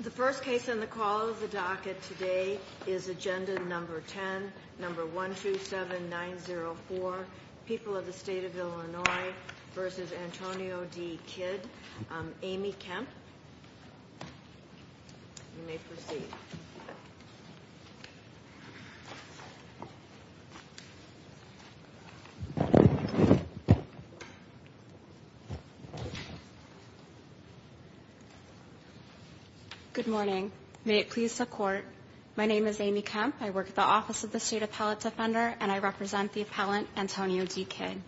The first case on the call of the docket today is agenda number 10, number 127904, People of the State of Illinois v. Antonio D. Kidd, Amy Kemp. You may proceed. Good morning. May it please the Court, my name is Amy Kemp, I work at the Office of the State Appellate Defender, and I represent the appellant Antonio D. Kidd.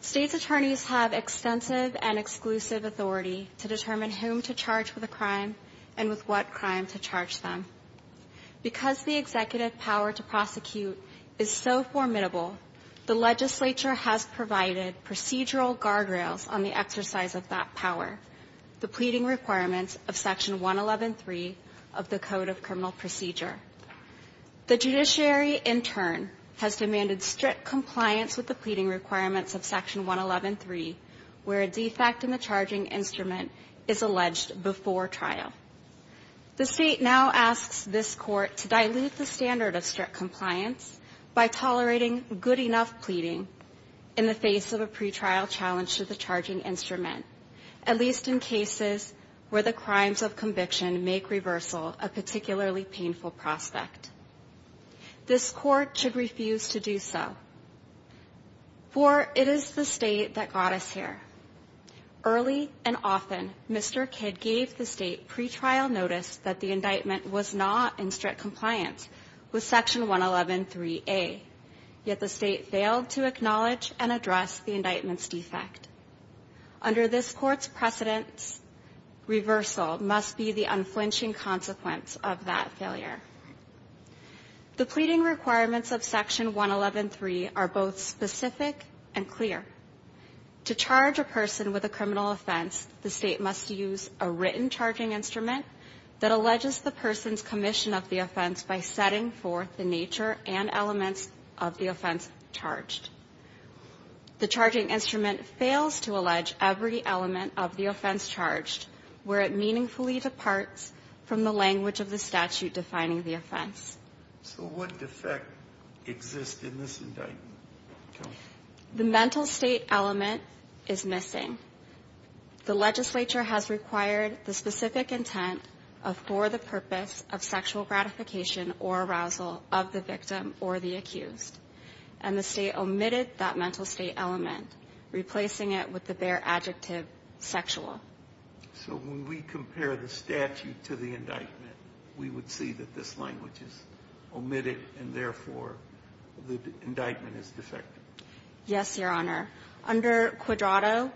States' attorneys have extensive and exclusive authority to determine whom to charge with a crime and with what crime to charge them. Because the executive power to prosecute is so formidable, the legislature has provided procedural guardrails on the exercise of that power, the pleading requirements of Section 111.3 of the Code of Criminal Procedure. The judiciary, in turn, has demanded strict compliance with the pleading requirements of Section 111.3, where a defect in the charging instrument is alleged before trial. The State now asks this Court to dilute the standard of strict compliance by tolerating good enough pleading in the face of a pretrial challenge to the charging instrument, at least in cases where the crimes of conviction make reversal a particularly painful prospect. This Court should refuse to do so, for it is the State that got us here. Early and often, Mr. Kidd gave the State pretrial notice that the indictment was not in strict compliance with Section 111.3a, yet the State failed to acknowledge and address the indictment's defect. Under this Court's precedence, reversal must be the unflinching consequence of that failure. The pleading requirements of Section 111.3 are both specific and clear. To charge a person with a criminal offense, the State must use a written charging instrument that alleges the person's commission of the offense by setting forth the nature and elements of the offense charged. The charging instrument fails to allege every element of the offense charged, where it meaningfully departs from the language of the statute defining the offense. So what defect exists in this indictment? The mental state element is missing. The legislature has required the specific intent of for the purpose of sexual gratification or arousal of the victim or the accused, and the State omitted that mental state element, replacing it with the bare adjective sexual. So when we compare the statute to the indictment, we would see that this language is omitted, and therefore the indictment is defective. Yes, Your Honor. Under Quadrato,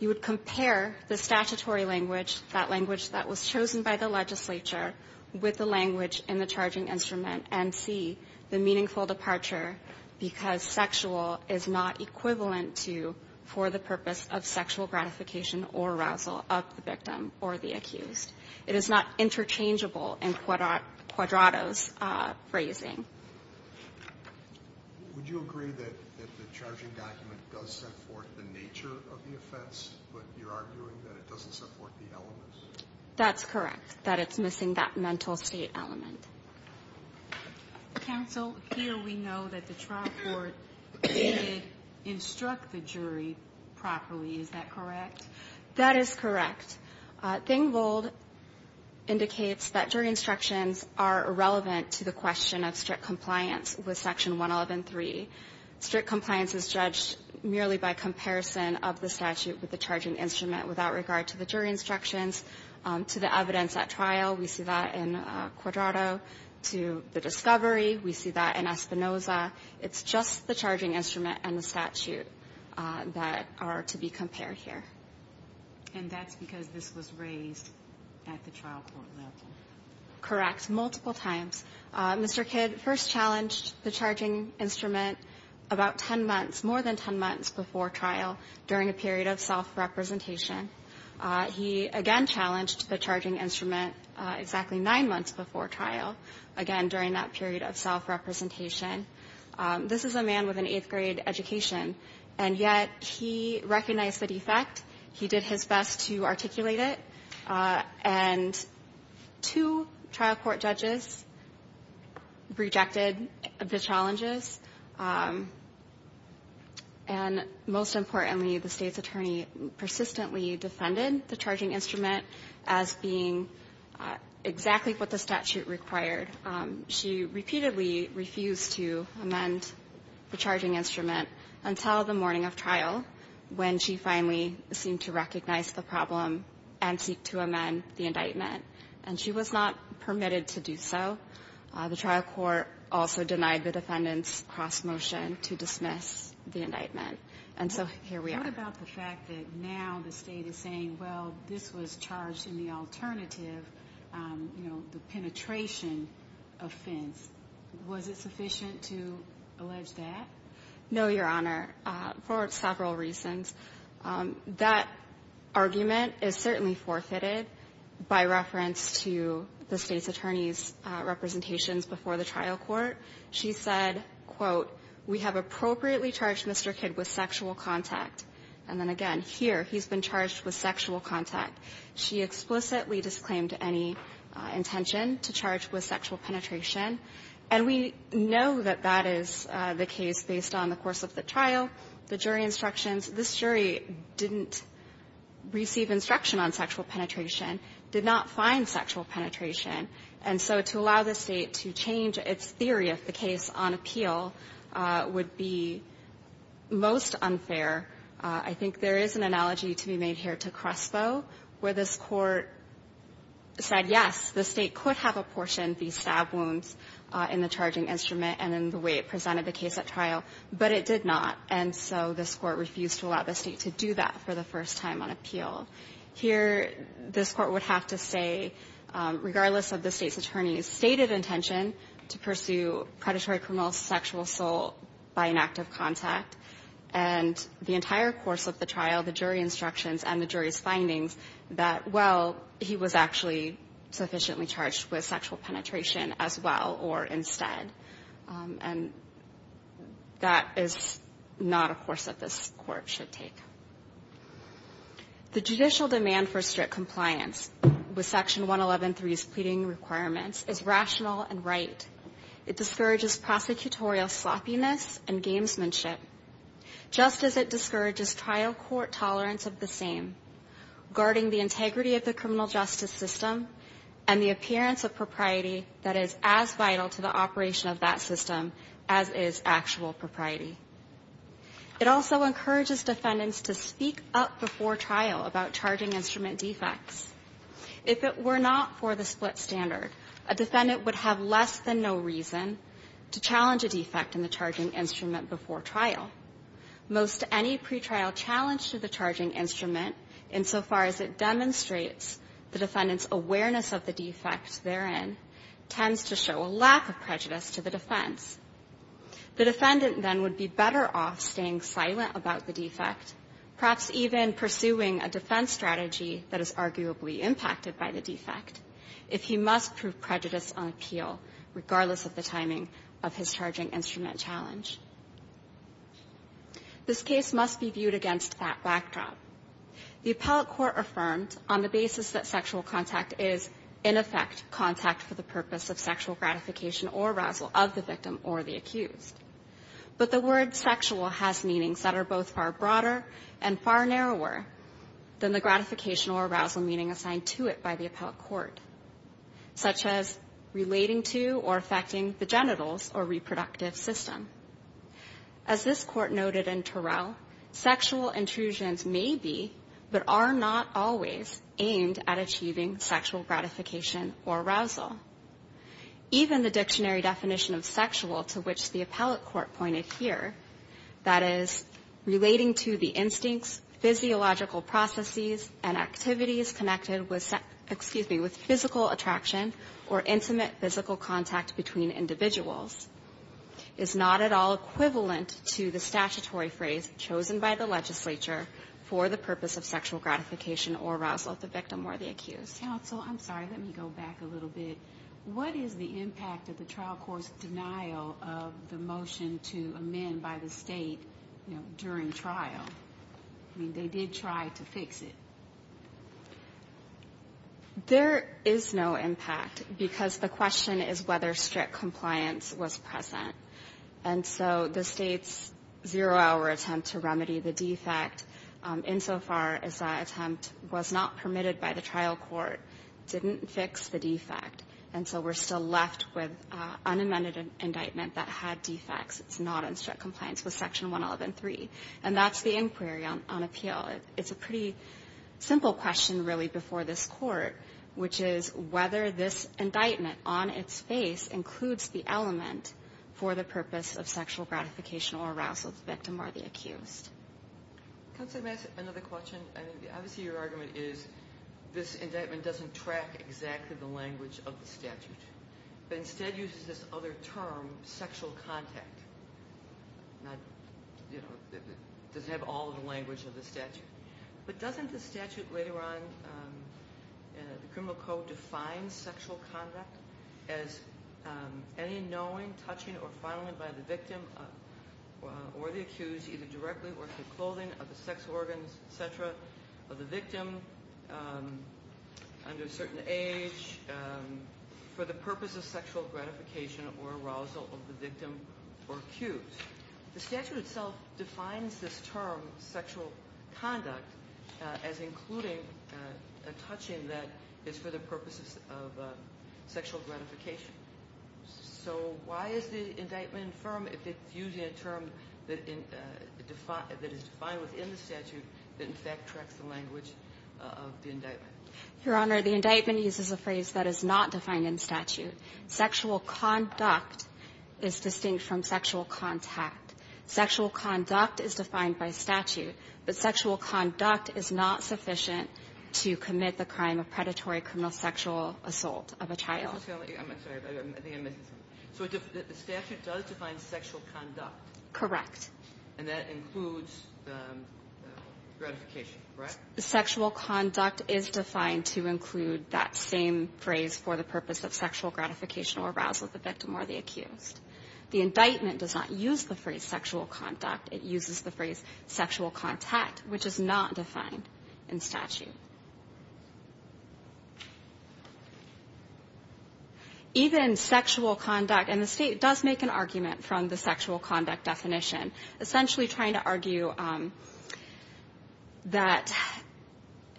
you would compare the statutory language, that language that was chosen by the legislature, with the language in the charging instrument and see the meaningful departure, because sexual is not equivalent to for the purpose of sexual gratification or arousal of the victim or the accused. It is not interchangeable in Quadrato's phrasing. Would you agree that the charging document does set forth the nature of the offense, but you're arguing that it doesn't set forth the elements? That's correct, that it's missing that mental state element. Counsel, here we know that the trial court did instruct the jury properly. Is that correct? That is correct. Dengvold indicates that jury instructions are irrelevant to the question of strict compliance with Section 111.3. Strict compliance is judged merely by comparison of the statute with the charging instrument without regard to the jury instructions, to the evidence at trial. We see that in Quadrato. To the discovery, we see that in Espinoza. It's just the charging instrument and the statute that are to be compared here. And that's because this was raised at the trial court level? Correct, multiple times. Mr. Kidd first challenged the charging instrument about 10 months, more than 10 months before trial, during a period of self-representation. He, again, challenged the charging instrument exactly nine months before trial, again, during that period of self-representation. This is a man with an eighth-grade education, and yet he recognized the defect. He did his best to articulate it. And two trial court judges rejected the challenges. And most importantly, the State's attorney persistently defended the charging instrument as being exactly what the statute required. She repeatedly refused to amend the charging instrument until the morning of trial, when she finally seemed to recognize the problem and seek to amend the indictment. And she was not permitted to do so. The trial court also denied the defendant's cross-motion to dismiss the indictment. And so here we are. What about the fact that now the State is saying, well, this was charged in the alternative, you know, the penetration offense? Was it sufficient to allege that? No, Your Honor, for several reasons. That argument is certainly forfeited by reference to the State's attorney's representations before the trial court. She said, quote, we have appropriately charged Mr. Kidd with sexual contact. And then again, here, he's been charged with sexual contact. She explicitly disclaimed any intention to charge with sexual penetration. And we know that that is the case based on the course of the trial, the jury instructions. This jury didn't receive instruction on sexual penetration, did not find sexual penetration. And so to allow the State to change its theory of the case on appeal would be most unfair. I think there is an analogy to be made here to Crespo, where this Court said, yes, the State could have apportioned the stab wounds in the charging instrument and in the way it presented the case at trial, but it did not. And so this Court refused to allow the State to do that for the first time on appeal. Here, this Court would have to say, regardless of the State's attorney's stated intention to pursue predatory criminal sexual assault by an act of contact, and the entire course of the trial, the jury instructions and the jury's findings, that, well, he was actually sufficiently charged with sexual penetration as well or instead. And that is not a course that this Court should take. The judicial demand for strict compliance with Section 111.3's pleading requirements is rational and right. It discourages prosecutorial sloppiness and gamesmanship, just as it discourages trial court tolerance of the same, guarding the integrity of the criminal justice system and the appearance of propriety that is as vital to the operation of that system as is actual propriety. It also encourages defendants to speak up before trial about charging instrument defects. If it were not for the split standard, a defendant would have less than no reason to challenge a defect in the charging instrument before trial. Most any pretrial challenge to the charging instrument, insofar as it demonstrates the defendant's awareness of the defect therein, tends to show a lack of prejudice to the defense. The defendant, then, would be better off staying silent about the defect, perhaps even pursuing a defense strategy that is arguably impacted by the defect, if he must prove prejudice on appeal, regardless of the timing of his charging instrument challenge. This case must be viewed against that backdrop. The appellate court affirmed, on the basis that sexual contact is, in effect, contact for the purpose of sexual gratification or arousal of the victim or the accused. But the word sexual has meanings that are both far broader and far narrower than the gratification or arousal meaning assigned to it by the appellate court, such as relating to or affecting the genitals or reproductive system. As this court noted in Terrell, sexual intrusions may be, but are not always, aimed at achieving sexual gratification or arousal. Even the dictionary definition of sexual, to which the appellate court pointed here, that is, relating to the instincts, physiological processes, and activities connected with, excuse me, with physical attraction or intimate physical contact between individuals, is not at all equivalent to the statutory phrase chosen by the legislature for the purpose of sexual gratification or arousal of the victim or the accused. Counsel, I'm sorry, let me go back a little bit. What is the impact of the trial court's denial of the motion to amend by the state during trial? I mean, they did try to fix it. There is no impact, because the question is whether strict compliance was present. And so the State's zero-hour attempt to remedy the defect, insofar as that attempt was not permitted by the trial court, didn't fix the defect. And so we're still left with an unamended indictment that had defects. It's not in strict compliance with Section 111.3. And that's the inquiry on appeal. It's a pretty simple question, really, before this court, which is whether this indictment on its face includes the element for the purpose of sexual gratification or arousal of the victim or the accused. Counsel, may I ask another question? I mean, obviously your argument is this indictment doesn't track exactly the language of the statute, but instead uses this other term, sexual contact. It doesn't have all of the language of the statute. But doesn't the statute later on in the criminal code define sexual contact as any knowing, touching, or fondling by the victim or the accused, either directly or through clothing, of the sex organs, et cetera, of the victim, under a certain age, for the purpose of sexual gratification or arousal of the victim or accused? The statute itself defines this term, sexual conduct, as including a touching that is for the purposes of sexual gratification. So why is the indictment infirm if it's using a term that is defined within the statute that in fact tracks the language of the indictment? Your Honor, the indictment uses a phrase that is not defined in statute. Sexual conduct is distinct from sexual contact. Sexual conduct is defined by statute, but sexual conduct is not sufficient to commit the crime of predatory criminal sexual assault of a child. I'm sorry. I think I missed something. So the statute does define sexual conduct? Correct. And that includes gratification, correct? Sexual conduct is defined to include that same phrase for the purpose of sexual gratification or arousal of the victim or the accused. The indictment does not use the phrase sexual conduct. It uses the phrase sexual contact, which is not defined in statute. Even sexual conduct, and the State does make an argument from the sexual conduct definition, essentially trying to argue that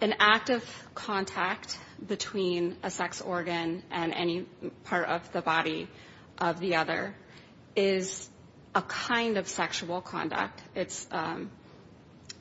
an act of contact between a sex organ and any part of the body of the other is a kind of sexual conduct.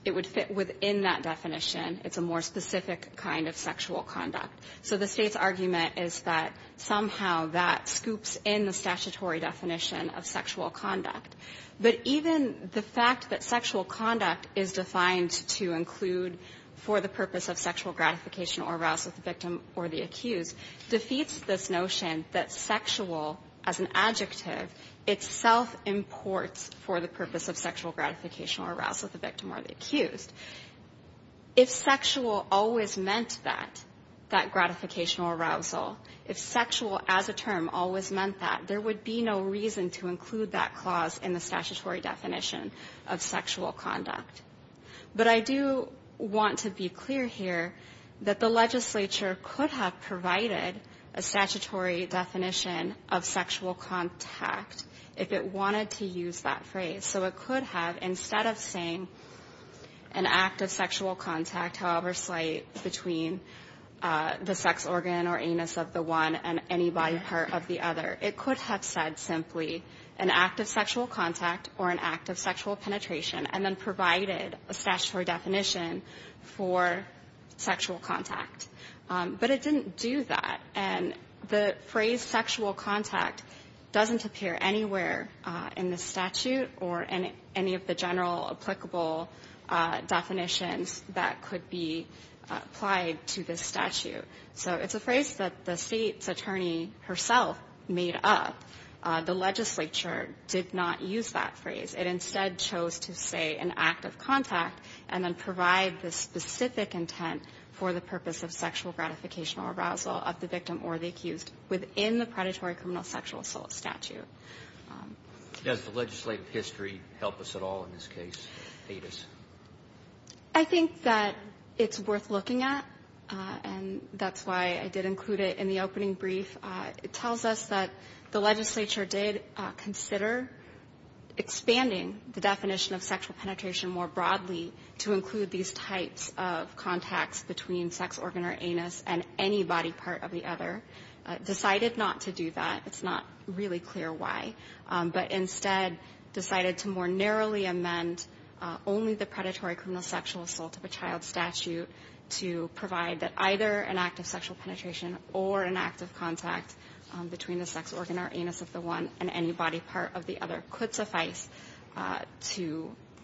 It would fit within that definition. It's a more specific kind of sexual conduct. So the State's argument is that somehow that scoops in the statutory definition of sexual conduct. But even the fact that sexual conduct is defined to include for the purpose of sexual gratification or arousal of the victim or the accused defeats this notion that sexual as an adjective itself imports for the purpose of sexual gratification or arousal of the victim or the accused. If sexual always meant that, that gratification or arousal, if sexual as a term always meant that, there would be no reason to include that clause in the statutory definition of sexual conduct. But I do want to be clear here that the legislature could have provided a statutory definition of sexual contact if it wanted to use that phrase. So it could have, instead of saying an act of sexual contact, however slight, between the sex organ or anus of the one and any body part of the other, it could have said simply an act of sexual contact or an act of sexual penetration and then provided a statutory definition for sexual contact. But it didn't do that. And the phrase sexual contact doesn't appear anywhere in the statute or in any of the to this statute. So it's a phrase that the State's attorney herself made up. The legislature did not use that phrase. It instead chose to say an act of contact and then provide the specific intent for the purpose of sexual gratification or arousal of the victim or the accused within the predatory criminal sexual assault statute. Does the legislative history help us at all in this case, aid us? I think that it's worth looking at, and that's why I did include it in the opening brief. It tells us that the legislature did consider expanding the definition of sexual penetration more broadly to include these types of contacts between sex organ or anus and any body part of the other. Decided not to do that. It's not really clear why. But instead decided to more narrowly amend only the predatory criminal sexual assault of a child statute to provide that either an act of sexual penetration or an act of contact between the sex organ or anus of the one and any body part of the other could suffice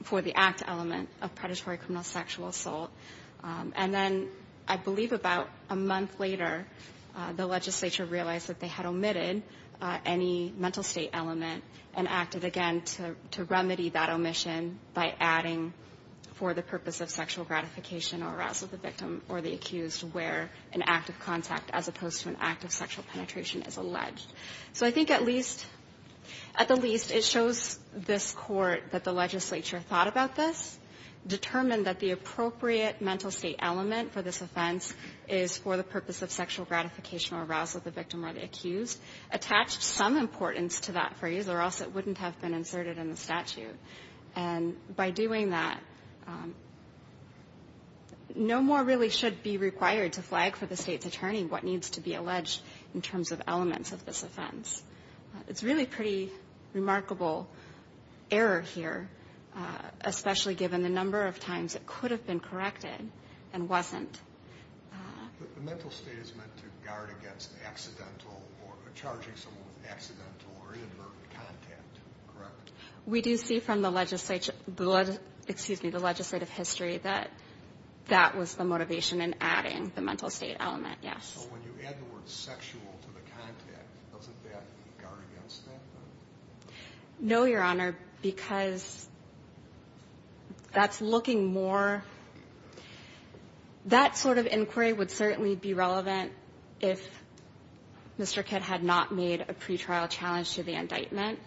for the act element of predatory criminal sexual assault. And then I believe about a month later the legislature realized that they had omitted any mental state element and acted again to remedy that omission by adding for the purpose of sexual gratification or arousal of the victim or the accused where an act of contact as opposed to an act of sexual penetration is alleged. So I think at least at the least it shows this Court that the legislature thought about this, determined that the appropriate mental state element for this offense is for the purpose of sexual gratification or arousal of the victim or the accused, attached some importance to that phrase or else it wouldn't have been inserted in the statute. And by doing that, no more really should be required to flag for the state's attorney what needs to be alleged in terms of elements of this offense. It's really pretty remarkable error here, especially given the number of times it could have been corrected and wasn't. The mental state is meant to guard against accidental or charging someone with accidental or inadvertent contact, correct? We do see from the legislative history that that was the motivation in adding the mental state element, yes. So when you add the word sexual to the contact, doesn't that guard against that? No, Your Honor, because that's looking more that sort of inquiry would certainly be relevant if Mr. Kidd had not made a pretrial challenge to the indictment,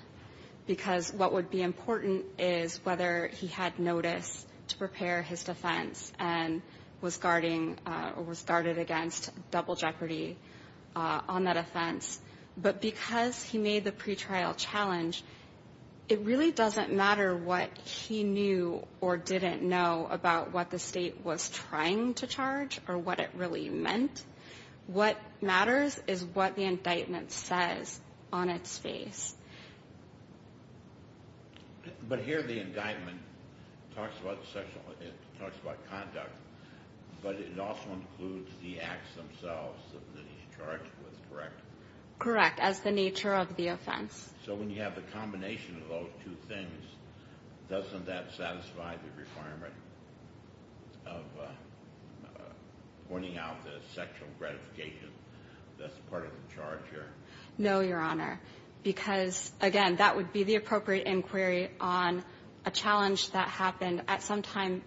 because what would be important is whether he had notice to prepare his defense and was guarding or was guarded against double jeopardy on that offense. But because he made the pretrial challenge, it really doesn't matter what he knew or didn't know about what the state was trying to charge or what it really meant. What matters is what the indictment says on its face. But here the indictment talks about conduct, but it also includes the acts themselves that he's charged with, correct? Correct, as the nature of the offense. So when you have the combination of those two things, doesn't that satisfy the requirement of pointing out the sexual gratification that's part of the charge here? No, Your Honor, because, again, that would be the appropriate inquiry on a challenge that happened at some time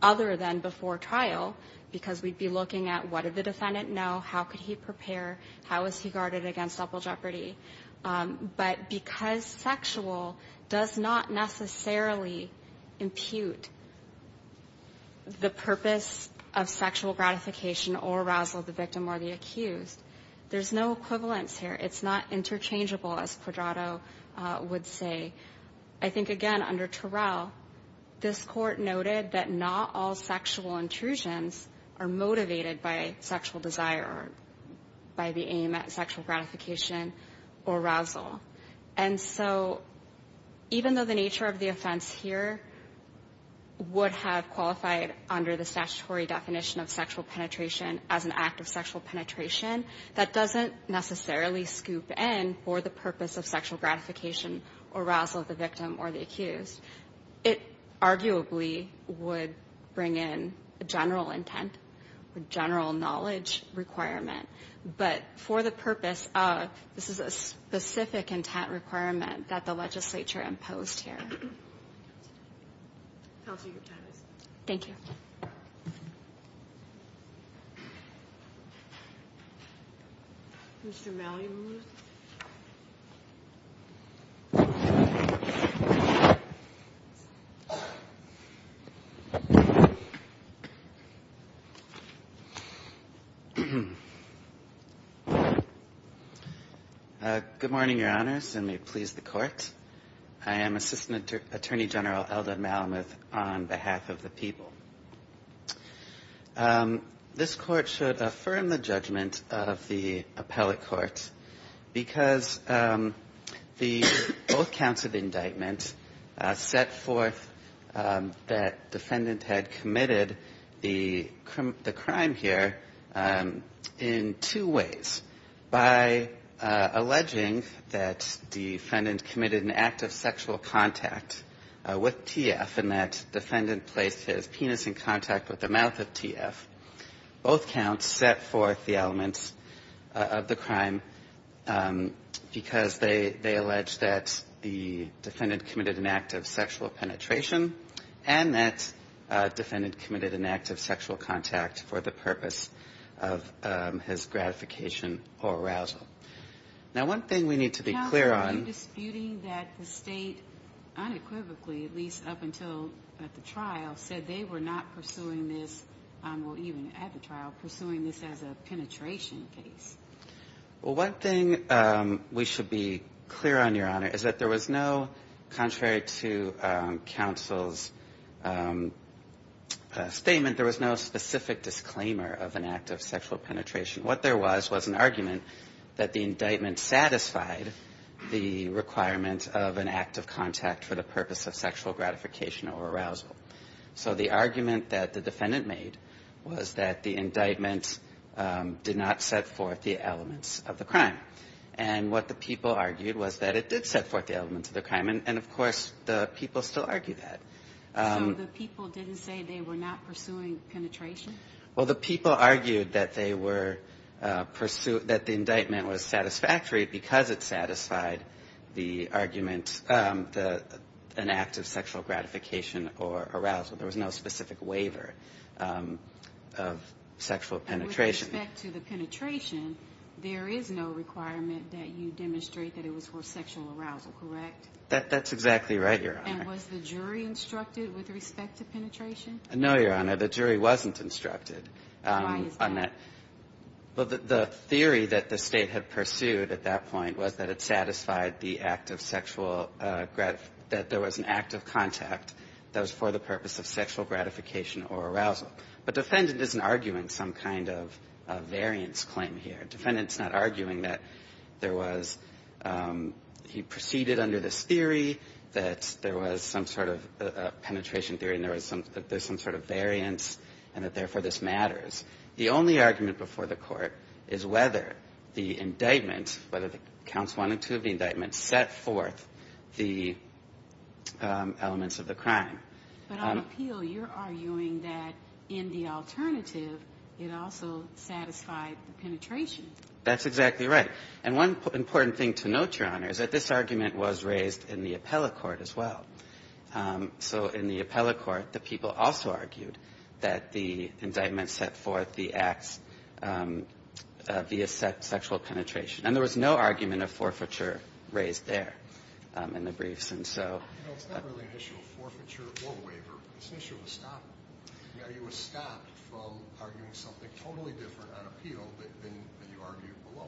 other than before trial, because we'd be looking at what did the defendant know, how could he prepare, how was he guarded against double jeopardy. But because sexual does not necessarily impute the purpose of sexual gratification or arousal of the victim or the accused, there's no equivalence here. It's not interchangeable, as Quadrato would say. I think, again, under Terrell, this Court noted that not all sexual intrusions are motivated by sexual desire or by the aim at sexual gratification or arousal. And so even though the nature of the offense here would have qualified under the statutory definition of sexual penetration as an act of sexual penetration, that doesn't necessarily scoop in for the purpose of sexual gratification, arousal of the victim or the accused. It arguably would bring in a general intent, a general knowledge requirement. But for the purpose of this is a specific intent requirement that the legislature imposed here. Thank you. Mr. Malamuth. Good morning, Your Honors, and may it please the Court. I am Assistant Attorney General Eldot Malamuth on behalf of the people. This Court should affirm the judgment of the appellate court because the oath counts of indictment set forth that defendant had committed the crime here in two ways, by alleging that defendant committed an act of sexual contact with TF and that defendant placed his penis in contact with the mouth of TF. Both counts set forth the elements of the crime because they allege that the defendant committed an act of sexual penetration and that defendant committed an act of sexual contact for the purpose of his gratification or arousal. Now, one thing we need to be clear on. I'm disputing that the State unequivocally, at least up until the trial, said they were not pursuing this, or even at the trial, pursuing this as a penetration case. Well, one thing we should be clear on, Your Honor, is that there was no, contrary to counsel's statement, there was no specific disclaimer of an act of sexual penetration. What there was was an argument that the indictment satisfied the requirement of an act of contact for the purpose of sexual gratification or arousal. So the argument that the defendant made was that the indictment did not set forth the elements of the crime. And what the people argued was that it did set forth the elements of the crime, and, of course, the people still argue that. So the people didn't say they were not pursuing penetration? Well, the people argued that they were pursuing, that the indictment was satisfactory because it satisfied the argument, an act of sexual gratification or arousal. There was no specific waiver of sexual penetration. And with respect to the penetration, there is no requirement that you demonstrate that it was for sexual arousal, correct? That's exactly right, Your Honor. And was the jury instructed with respect to penetration? No, Your Honor. The jury wasn't instructed on that. Why is that? Well, the theory that the State had pursued at that point was that it satisfied the act of sexual gratification, that there was an act of contact that was for the purpose of sexual gratification or arousal. But defendant isn't arguing some kind of variance claim here. Defendant's not arguing that there was he proceeded under this theory, that there was some sort of penetration theory and there's some sort of variance and that therefore this matters. The only argument before the Court is whether the indictment, whether the counts one and two of the indictment, set forth the elements of the crime. But on appeal, you're arguing that in the alternative, it also satisfied the penetration. That's exactly right. And one important thing to note, Your Honor, is that this argument was raised in the appellate court as well. So in the appellate court, the people also argued that the indictment set forth the acts via sexual penetration. And there was no argument of forfeiture raised there in the briefs. And so you know, it's not really an issue of forfeiture or waiver. It's an issue of estoppment. You know, you estopped from arguing something totally different on appeal than you argued below.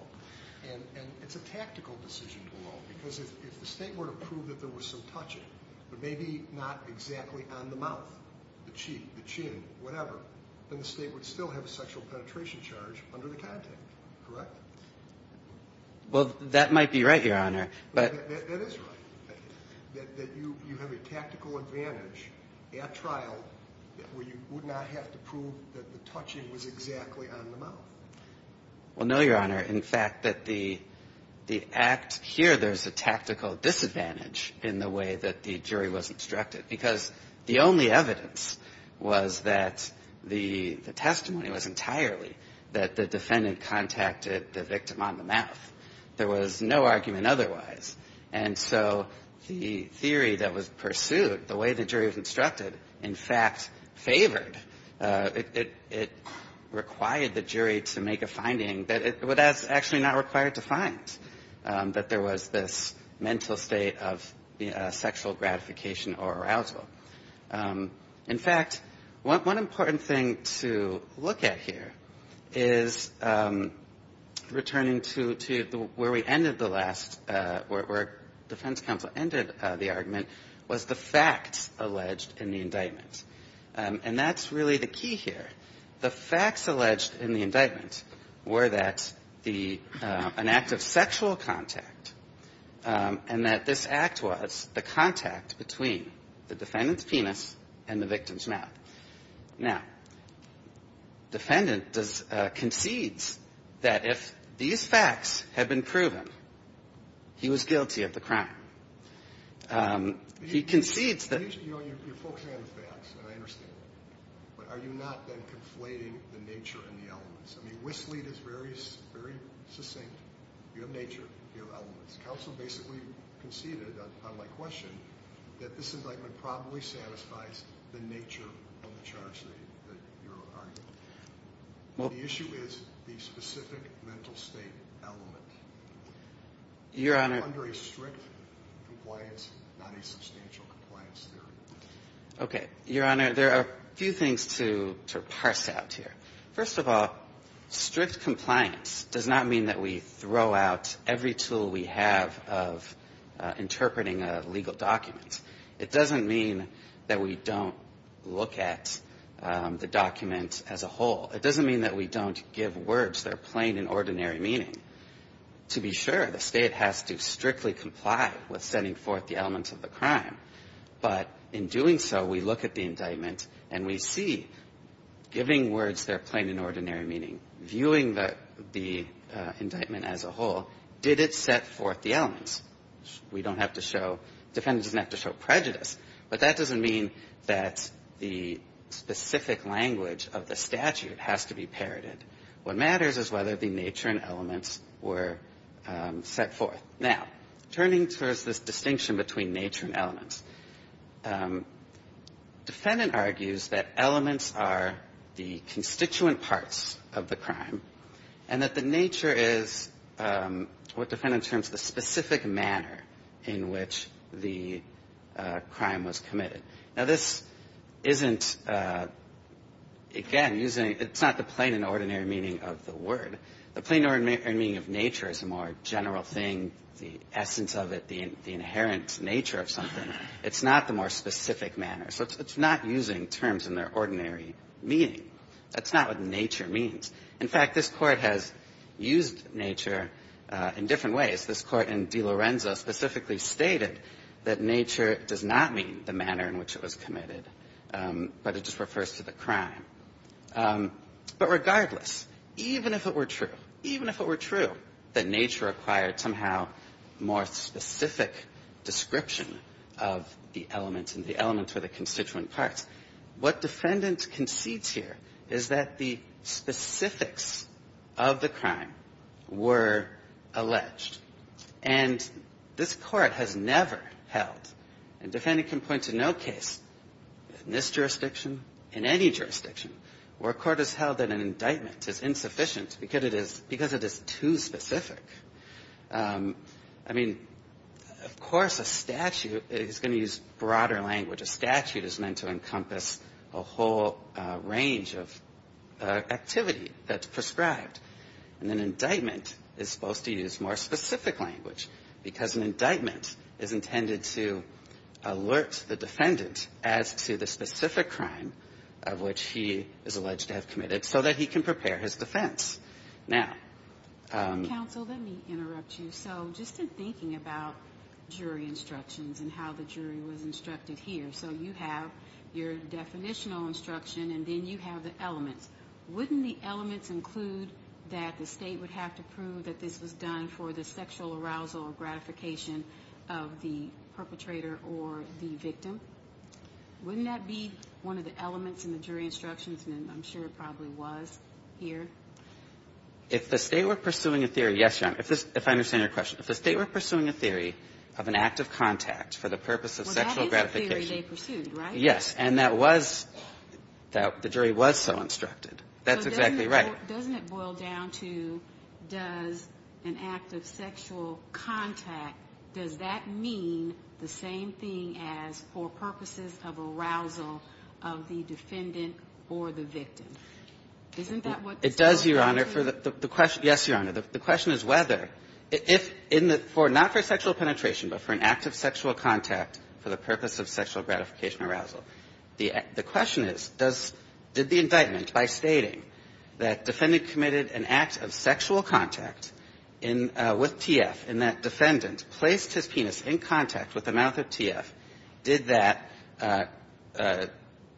And it's a tactical decision below. Because if the State were to prove that there was some touching, but maybe not exactly on the mouth, the cheek, the chin, whatever, then the State would still have a sexual penetration charge under the content. Correct? Well, that might be right, Your Honor. That is right. That you have a tactical advantage at trial where you would not have to prove that the touching was exactly on the mouth. Well, no, Your Honor. In fact, that the act here, there's a tactical disadvantage in the way that the jury was instructed. Because the only evidence was that the testimony was entirely that the defendant contacted the victim on the mouth. There was no argument otherwise. And so the theory that was pursued, the way the jury was instructed, in fact favored it required the jury to make a finding that it was actually not required to find. That there was this mental state of sexual gratification or arousal. In fact, one important thing to look at here is returning to where we ended the last where defense counsel ended the argument was the facts alleged in the indictment. And that's really the key here. The facts alleged in the indictment were that the an act of sexual contact and that this act was the contact between the defendant's penis and the victim's mouth. Now, defendant concedes that if these facts had been proven, he was guilty of the And I understand that. But are you not then conflating the nature and the elements? I mean, Whistlead is very succinct. You have nature. You have elements. Counsel basically conceded on my question that this indictment probably satisfies the nature of the charge that you're arguing. The issue is the specific mental state element. You're under a strict compliance, not a substantial compliance theory. Okay. Your Honor, there are a few things to parse out here. First of all, strict compliance does not mean that we throw out every tool we have of interpreting a legal document. It doesn't mean that we don't look at the document as a whole. It doesn't mean that we don't give words that are plain and ordinary meaning. To be sure, the State has to strictly comply with setting forth the elements of the crime. But in doing so, we look at the indictment and we see, giving words that are plain and ordinary meaning, viewing the indictment as a whole, did it set forth the elements? We don't have to show – defendant doesn't have to show prejudice. But that doesn't mean that the specific language of the statute has to be parroted. What matters is whether the nature and elements were set forth. Now, turning towards this distinction between nature and elements, defendant argues that elements are the constituent parts of the crime and that the nature is what defendant terms the specific manner in which the crime was committed. Now, this isn't, again, using – it's not the plain and ordinary meaning of the word. The plain and ordinary meaning of nature is a more general thing, the essence of it, the inherent nature of something. It's not the more specific manner. So it's not using terms in their ordinary meaning. That's not what nature means. In fact, this Court has used nature in different ways. This Court in De Lorenzo specifically stated that nature does not mean the manner in which it was committed, but it just refers to the crime. But regardless, even if it were true, even if it were true that nature required somehow more specific description of the elements and the elements were the constituent parts, what defendant concedes here is that the specifics of the crime were alleged. And this Court has never held – and defendant can point to no case in this jurisdiction, in any jurisdiction, where a court has held that an indictment is insufficient because it is too specific. I mean, of course a statute is going to use broader language. A statute is meant to encompass a whole range of activity that's prescribed. And an indictment is supposed to use more specific language because an indictment is intended to alert the defendant as to the specific crime of which he is alleged to have committed so that he can prepare his defense. Now – Counsel, let me interrupt you. So just in thinking about jury instructions and how the jury was instructed here, so you have your definitional instruction, and then you have the elements. Wouldn't the elements include that the State would have to prove that this was done for the sexual arousal or gratification of the perpetrator or the victim? Wouldn't that be one of the elements in the jury instructions? And I'm sure it probably was here. If the State were pursuing a theory – yes, Your Honor, if I understand your question. If the State were pursuing a theory of an act of contact for the purpose of sexual gratification – Well, that is the theory they pursued, right? Yes, and that was – the jury was so instructed. That's exactly right. So doesn't it boil down to, does an act of sexual contact, does that mean the same thing as for purposes of arousal of the defendant or the victim? Isn't that what this is? It does, Your Honor. Yes, Your Honor. The question is whether – if in the – not for sexual penetration, but for an act of sexual contact for the purpose of sexual gratification arousal. The question is, does – did the indictment, by stating that defendant committed an act of sexual contact in – with TF and that defendant placed his penis in contact with the mouth of TF, did that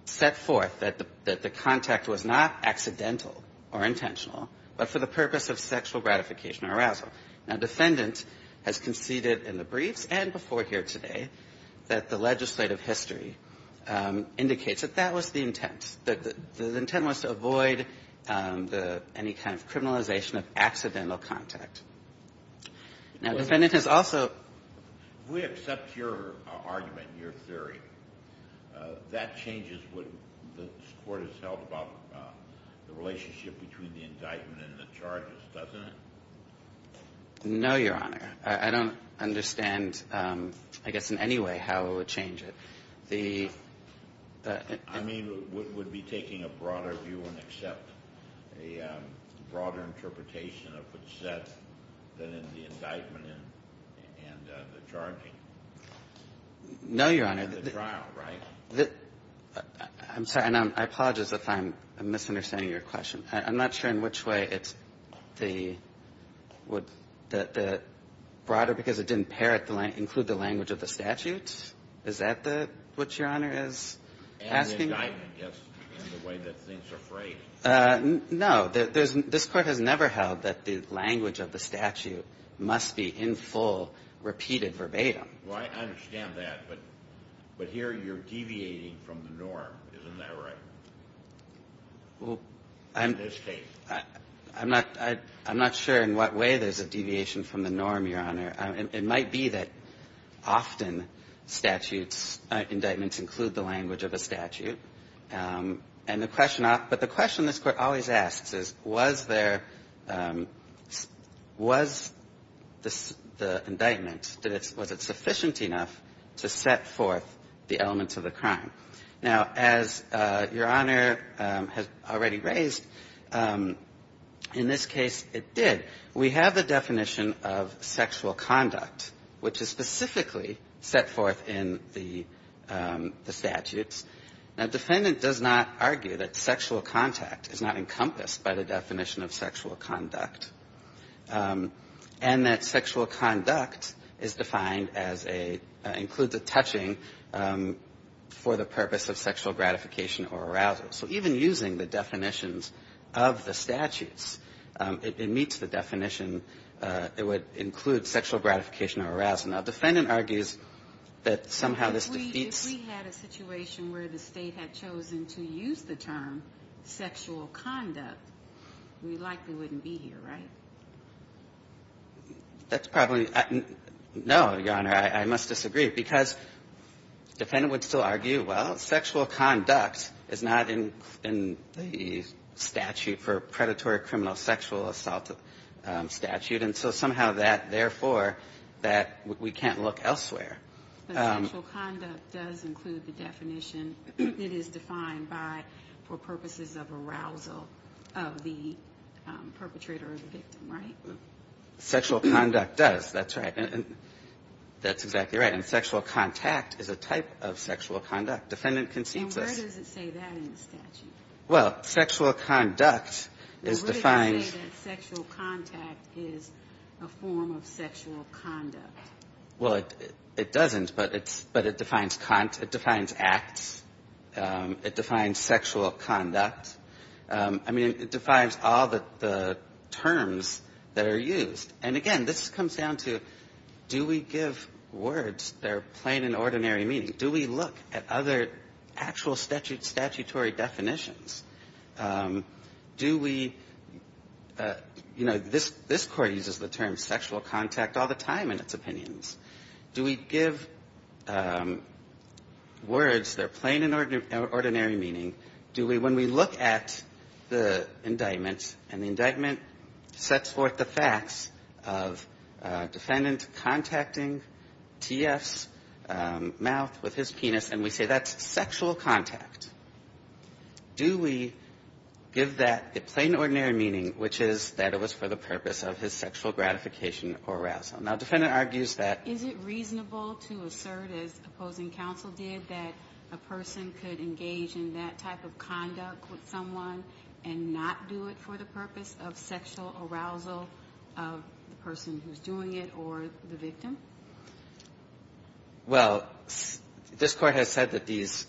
set forth that the contact was not accidental or intentional, but for the purpose of sexual gratification arousal? Now, defendant has conceded in the briefs and before here today that the legislative history indicates that that was the intent, that the intent was to avoid any kind of criminalization of accidental contact. Now, defendant has also – If we accept your argument, your theory, that changes what this Court has held about the relationship between the indictment and the charges, doesn't it? No, Your Honor. I don't understand, I guess, in any way how it would change it. The – I mean, would it be taking a broader view and accept a broader interpretation of what's said than in the indictment and the charging? No, Your Honor. In the trial, right? I'm sorry. And I apologize if I'm misunderstanding your question. I'm not sure in which way it's the – would the – broader because it didn't include the language of the statute? Is that what Your Honor is asking? In the indictment, yes, in the way that things are phrased. No. This Court has never held that the language of the statute must be in full repeated verbatim. Well, I understand that, but here you're deviating from the norm. Isn't that right? Well, I'm – In this case. I'm not – I'm not sure in what way there's a deviation from the norm, Your Honor. It might be that often statutes, indictments include the language of a statute. And the question – but the question this Court always asks is, was there – was the indictment – was it sufficient enough to set forth the elements of the crime? Now, as Your Honor has already raised, in this case it did. We have the definition of sexual conduct, which is specifically set forth in the statutes. Now, the defendant does not argue that sexual contact is not encompassed by the definition of sexual conduct, and that sexual conduct is defined as a – includes a touching for the purpose of sexual gratification or arousal. So even using the definitions of the statutes, it meets the definition. It would include sexual gratification or arousal. Now, the defendant argues that somehow this defeats – If we had a situation where the State had chosen to use the term sexual conduct, we likely wouldn't be here, right? That's probably – no, Your Honor. I must disagree, because the defendant would still argue, well, sexual conduct is not in the statute for predatory criminal sexual assault statute. And so somehow that – therefore, that – we can't look elsewhere. But sexual conduct does include the definition. It is defined by – for purposes of arousal of the perpetrator or the victim, right? Sexual conduct does. That's right. That's exactly right. And sexual contact is a type of sexual conduct. Defendant concedes this. And where does it say that in the statute? Well, sexual conduct is defined – But where does it say that sexual contact is a form of sexual conduct? Well, it doesn't, but it's – but it defines – it defines acts. It defines sexual conduct. I mean, it defines all the terms that are used. And, again, this comes down to do we give words that are plain and ordinary meaning? Do we look at other actual statutory definitions? Do we – you know, this Court uses the term sexual contact all the time in its opinions. Do we give words that are plain and ordinary meaning? Do we – when we look at the indictment and the indictment sets forth the facts of defendant contacting T.F.'s mouth with his penis and we say that's sexual contact, do we give that a plain and ordinary meaning, which is that it was for the purpose of his sexual gratification or arousal? Now, defendant argues that – Is it reasonable to assert, as opposing counsel did, that a person could engage in that type of conduct with someone and not do it for the purpose of sexual arousal of the person who's doing it or the victim? Well, this Court has said that these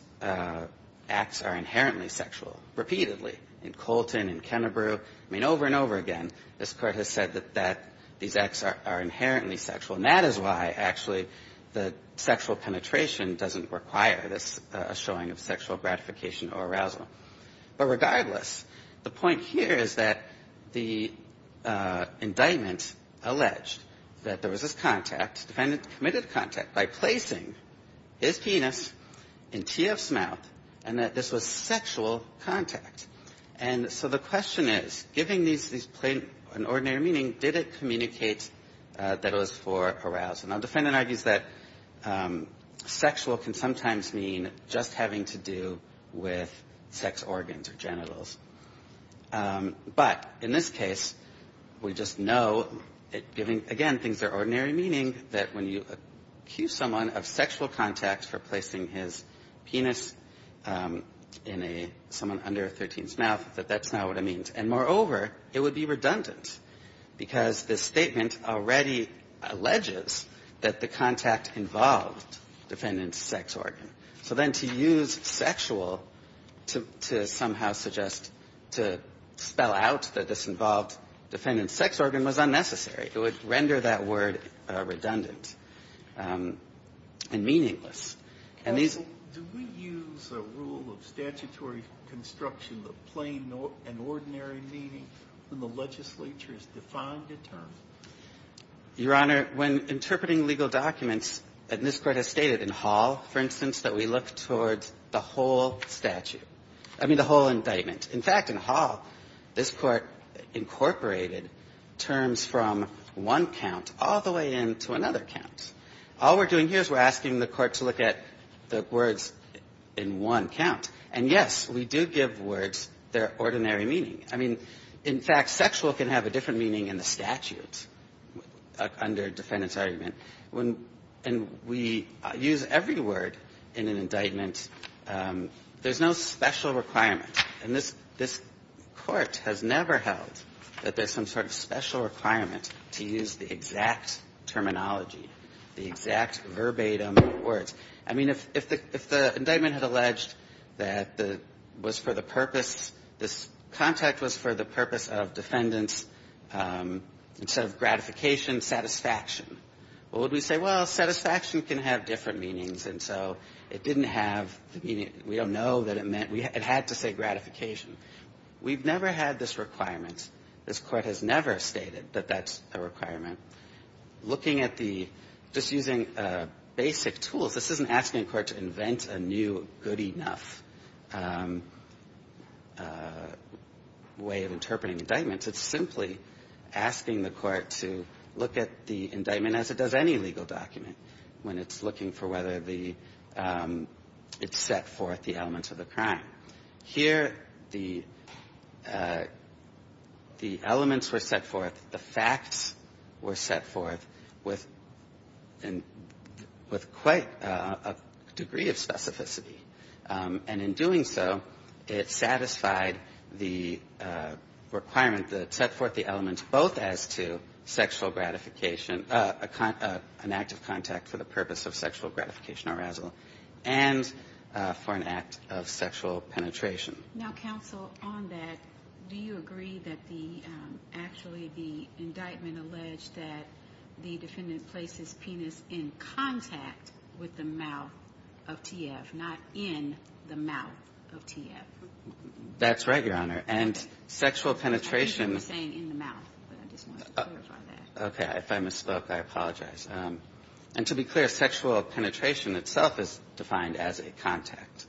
acts are inherently sexual, repeatedly, in Colton, in Kennebrew. I mean, over and over again, this Court has said that these acts are inherently sexual. And that is why, actually, the sexual penetration doesn't require this – a showing of sexual gratification or arousal. But regardless, the point here is that the indictment alleged that there was this contact, defendant committed contact by placing his penis in T.F.'s mouth and that this was sexual contact. And so the question is, giving these – these plain and ordinary meaning, did it communicate that it was for arousal? Now, defendant argues that sexual can sometimes mean just having to do with sex organs or genitals. But in this case, we just know, giving, again, things that are ordinary meaning, that when you accuse someone of sexual contact for placing his penis in a – someone under a 13th's mouth, that that's not what it means. And moreover, it would be redundant because this statement already alleges that the contact involved defendant's sex organ. So then to use sexual to somehow suggest – to spell out that this involved defendant's sex organ was unnecessary, it would render that word redundant and meaningless. And these – the question is, giving these plain and ordinary meaning when the legislature has defined a term. Your Honor, when interpreting legal documents, and this Court has stated in Hall, for instance, that we look towards the whole statute – I mean, the whole indictment. In fact, in Hall, this Court incorporated terms from one count all the way into another count. All we're doing here is we're asking the Court to look at the words in one count. And, yes, we do give words their ordinary meaning. I mean, in fact, sexual can have a different meaning in the statute under defendant's argument. When – and we use every word in an indictment. There's no special requirement. And this – this Court has never held that there's some sort of special requirement to use the exact terminology, the exact verbatim words. I mean, if the – if the indictment had alleged that the – was for the purpose – this contact was for the purpose of defendant's, instead of gratification, satisfaction, what would we say? Well, satisfaction can have different meanings. And so it didn't have – we don't know that it meant – it had to say gratification. We've never had this requirement. This Court has never stated that that's a requirement. Looking at the – just using basic tools, this isn't asking the Court to invent a new good enough way of interpreting indictments. It's simply asking the Court to look at the indictment as it does any legal document when it's looking for whether the – it's set forth the elements of the crime. Here, the elements were set forth, the facts were set forth with – with quite a degree of specificity. And in doing so, it satisfied the requirement that it set forth the elements both as to sexual gratification – an act of contact for the purpose of sexual gratification or arousal – and for an act of sexual penetration. Now, counsel, on that, do you agree that the – actually, the indictment alleged that the defendant placed his penis in contact with the mouth of T.F., not in the mouth of T.F.? That's right, Your Honor. And sexual penetration – I think you were saying in the mouth, but I just wanted to clarify that. Okay. If I misspoke, I apologize. And to be clear, sexual penetration itself is defined as a contact.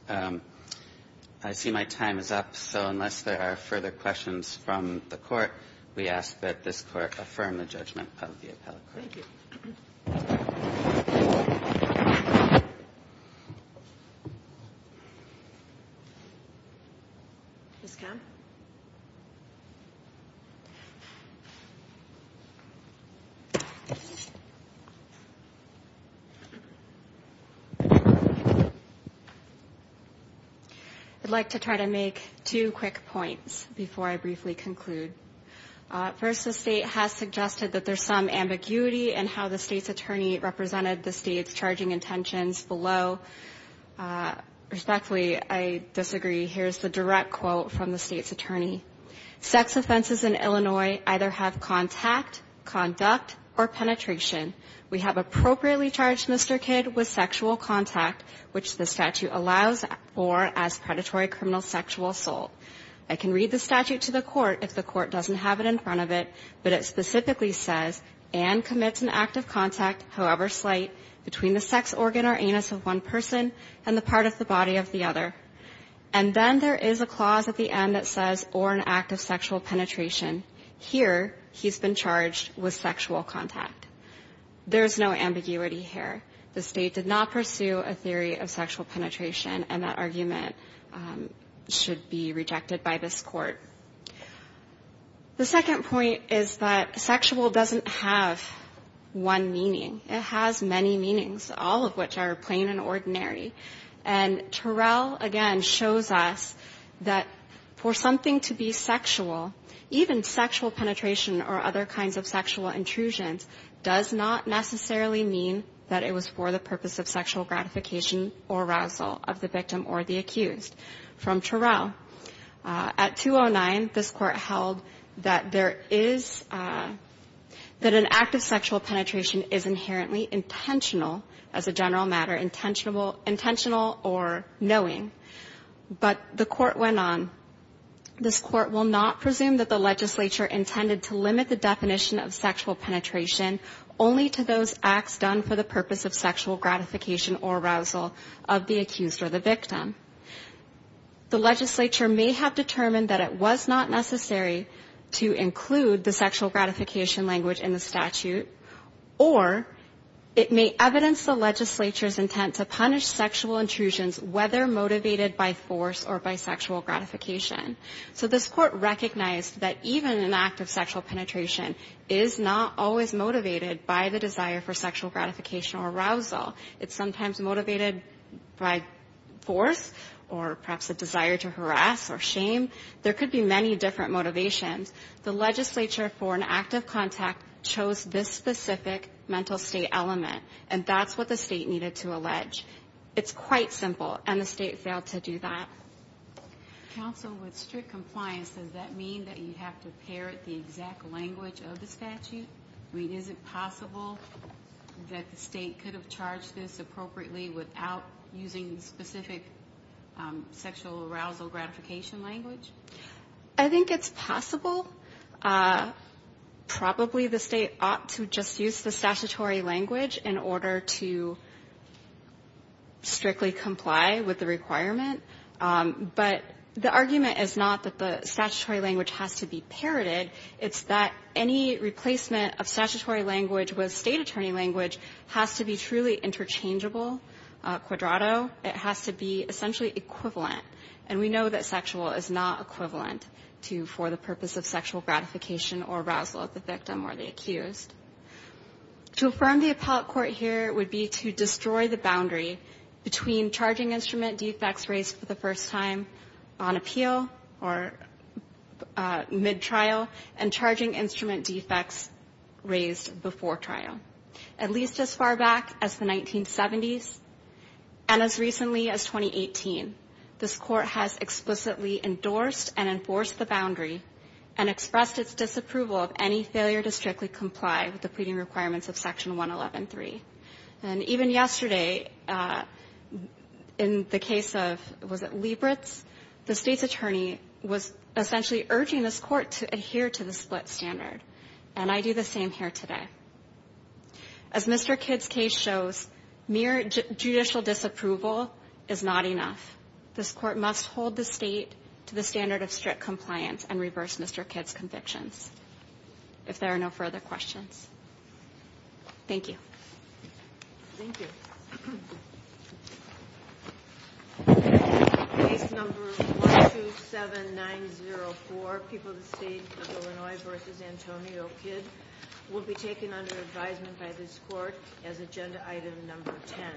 I see my time is up. So unless there are further questions from the Court, we ask that this Court affirm the judgment of the appellate court. Thank you. Ms. Kamm? I'd like to try to make two quick points before I briefly conclude. First, the State has suggested that there's some ambiguity in how the State's attorney represented the State's charging intentions below. Respectfully, I disagree. Here's the direct quote from the State's attorney. Sex offenses in Illinois either have contact, conduct, or penetration. We have appropriately charged Mr. Kidd with sexual contact, which the statute allows for as predatory criminal sexual assault. I can read the statute to the Court if the Court doesn't have it in front of it, but it specifically says, and commits an act of contact, however slight, between the sex organ or anus of one person and the part of the body of the other. And then there is a clause at the end that says, or an act of sexual penetration. Here, he's been charged with sexual contact. There's no ambiguity here. The State did not pursue a theory of sexual penetration, and that argument should be rejected by this Court. The second point is that sexual doesn't have one meaning. It has many meanings, all of which are plain and ordinary. And Terrell, again, shows us that for something to be sexual, even sexual penetration or other kinds of sexual intrusions does not necessarily mean that it was for the purpose of sexual gratification or arousal of the victim or the accused. From Terrell, at 209, this Court held that there is, that an act of sexual penetration is inherently intentional, as a general matter, intentional or knowing. But the Court went on, this Court will not presume that the legislature intended to limit the definition of sexual penetration only to those acts done for the purpose of sexual gratification or arousal of the accused or the victim. The legislature may have determined that it was not necessary to include the sexual gratification language in the statute, or it may evidence the legislature's intent to punish sexual intrusions, whether motivated by force or by sexual gratification. So this Court recognized that even an act of sexual penetration is not always motivated by the desire for sexual gratification or arousal. It's sometimes motivated by force or perhaps a desire to harass or shame. There could be many different motivations. The legislature, for an act of contact, chose this specific mental state element, and that's what the state needed to allege. It's quite simple, and the state failed to do that. Counsel, with strict compliance, does that mean that you have to parrot the exact language of the statute? I mean, is it possible that the state could have charged this appropriately without using the specific sexual arousal gratification language? I think it's possible. Probably the state ought to just use the statutory language in order to strictly comply with the requirement, but the argument is not that the statutory language has to be parroted. It's that any replacement of statutory language with state attorney language has to be truly interchangeable, quadrato. It has to be essentially equivalent, and we know that sexual is not equivalent to for the purpose of sexual gratification or arousal of the victim or the accused. To affirm the appellate court here would be to destroy the boundary between charging instrument defects raised for the first time on appeal or mid-trial and charging instrument defects raised before trial. At least as far back as the 1970s and as recently as 2018, this court has explicitly endorsed and enforced the boundary and expressed its disapproval of any failure to strictly comply with the pleading requirements of Section 111.3. And even yesterday, in the case of, was it Liebritz, the state's attorney was essentially urging this court to adhere to the split standard, and I do the same here today. As Mr. Kidd's case shows, mere judicial disapproval is not enough. This court must hold the state to the standard of strict compliance and reverse Mr. Kidd's convictions, if there are no further questions. Thank you. Thank you. Case number 127904, People of the State of Illinois v. Antonio Kidd, will be taken under advisement by this court as agenda item number 10.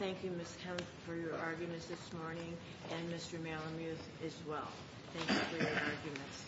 Thank you, Ms. Kent, for your arguments this morning, and Mr. Malamuth as well. Thank you for your arguments.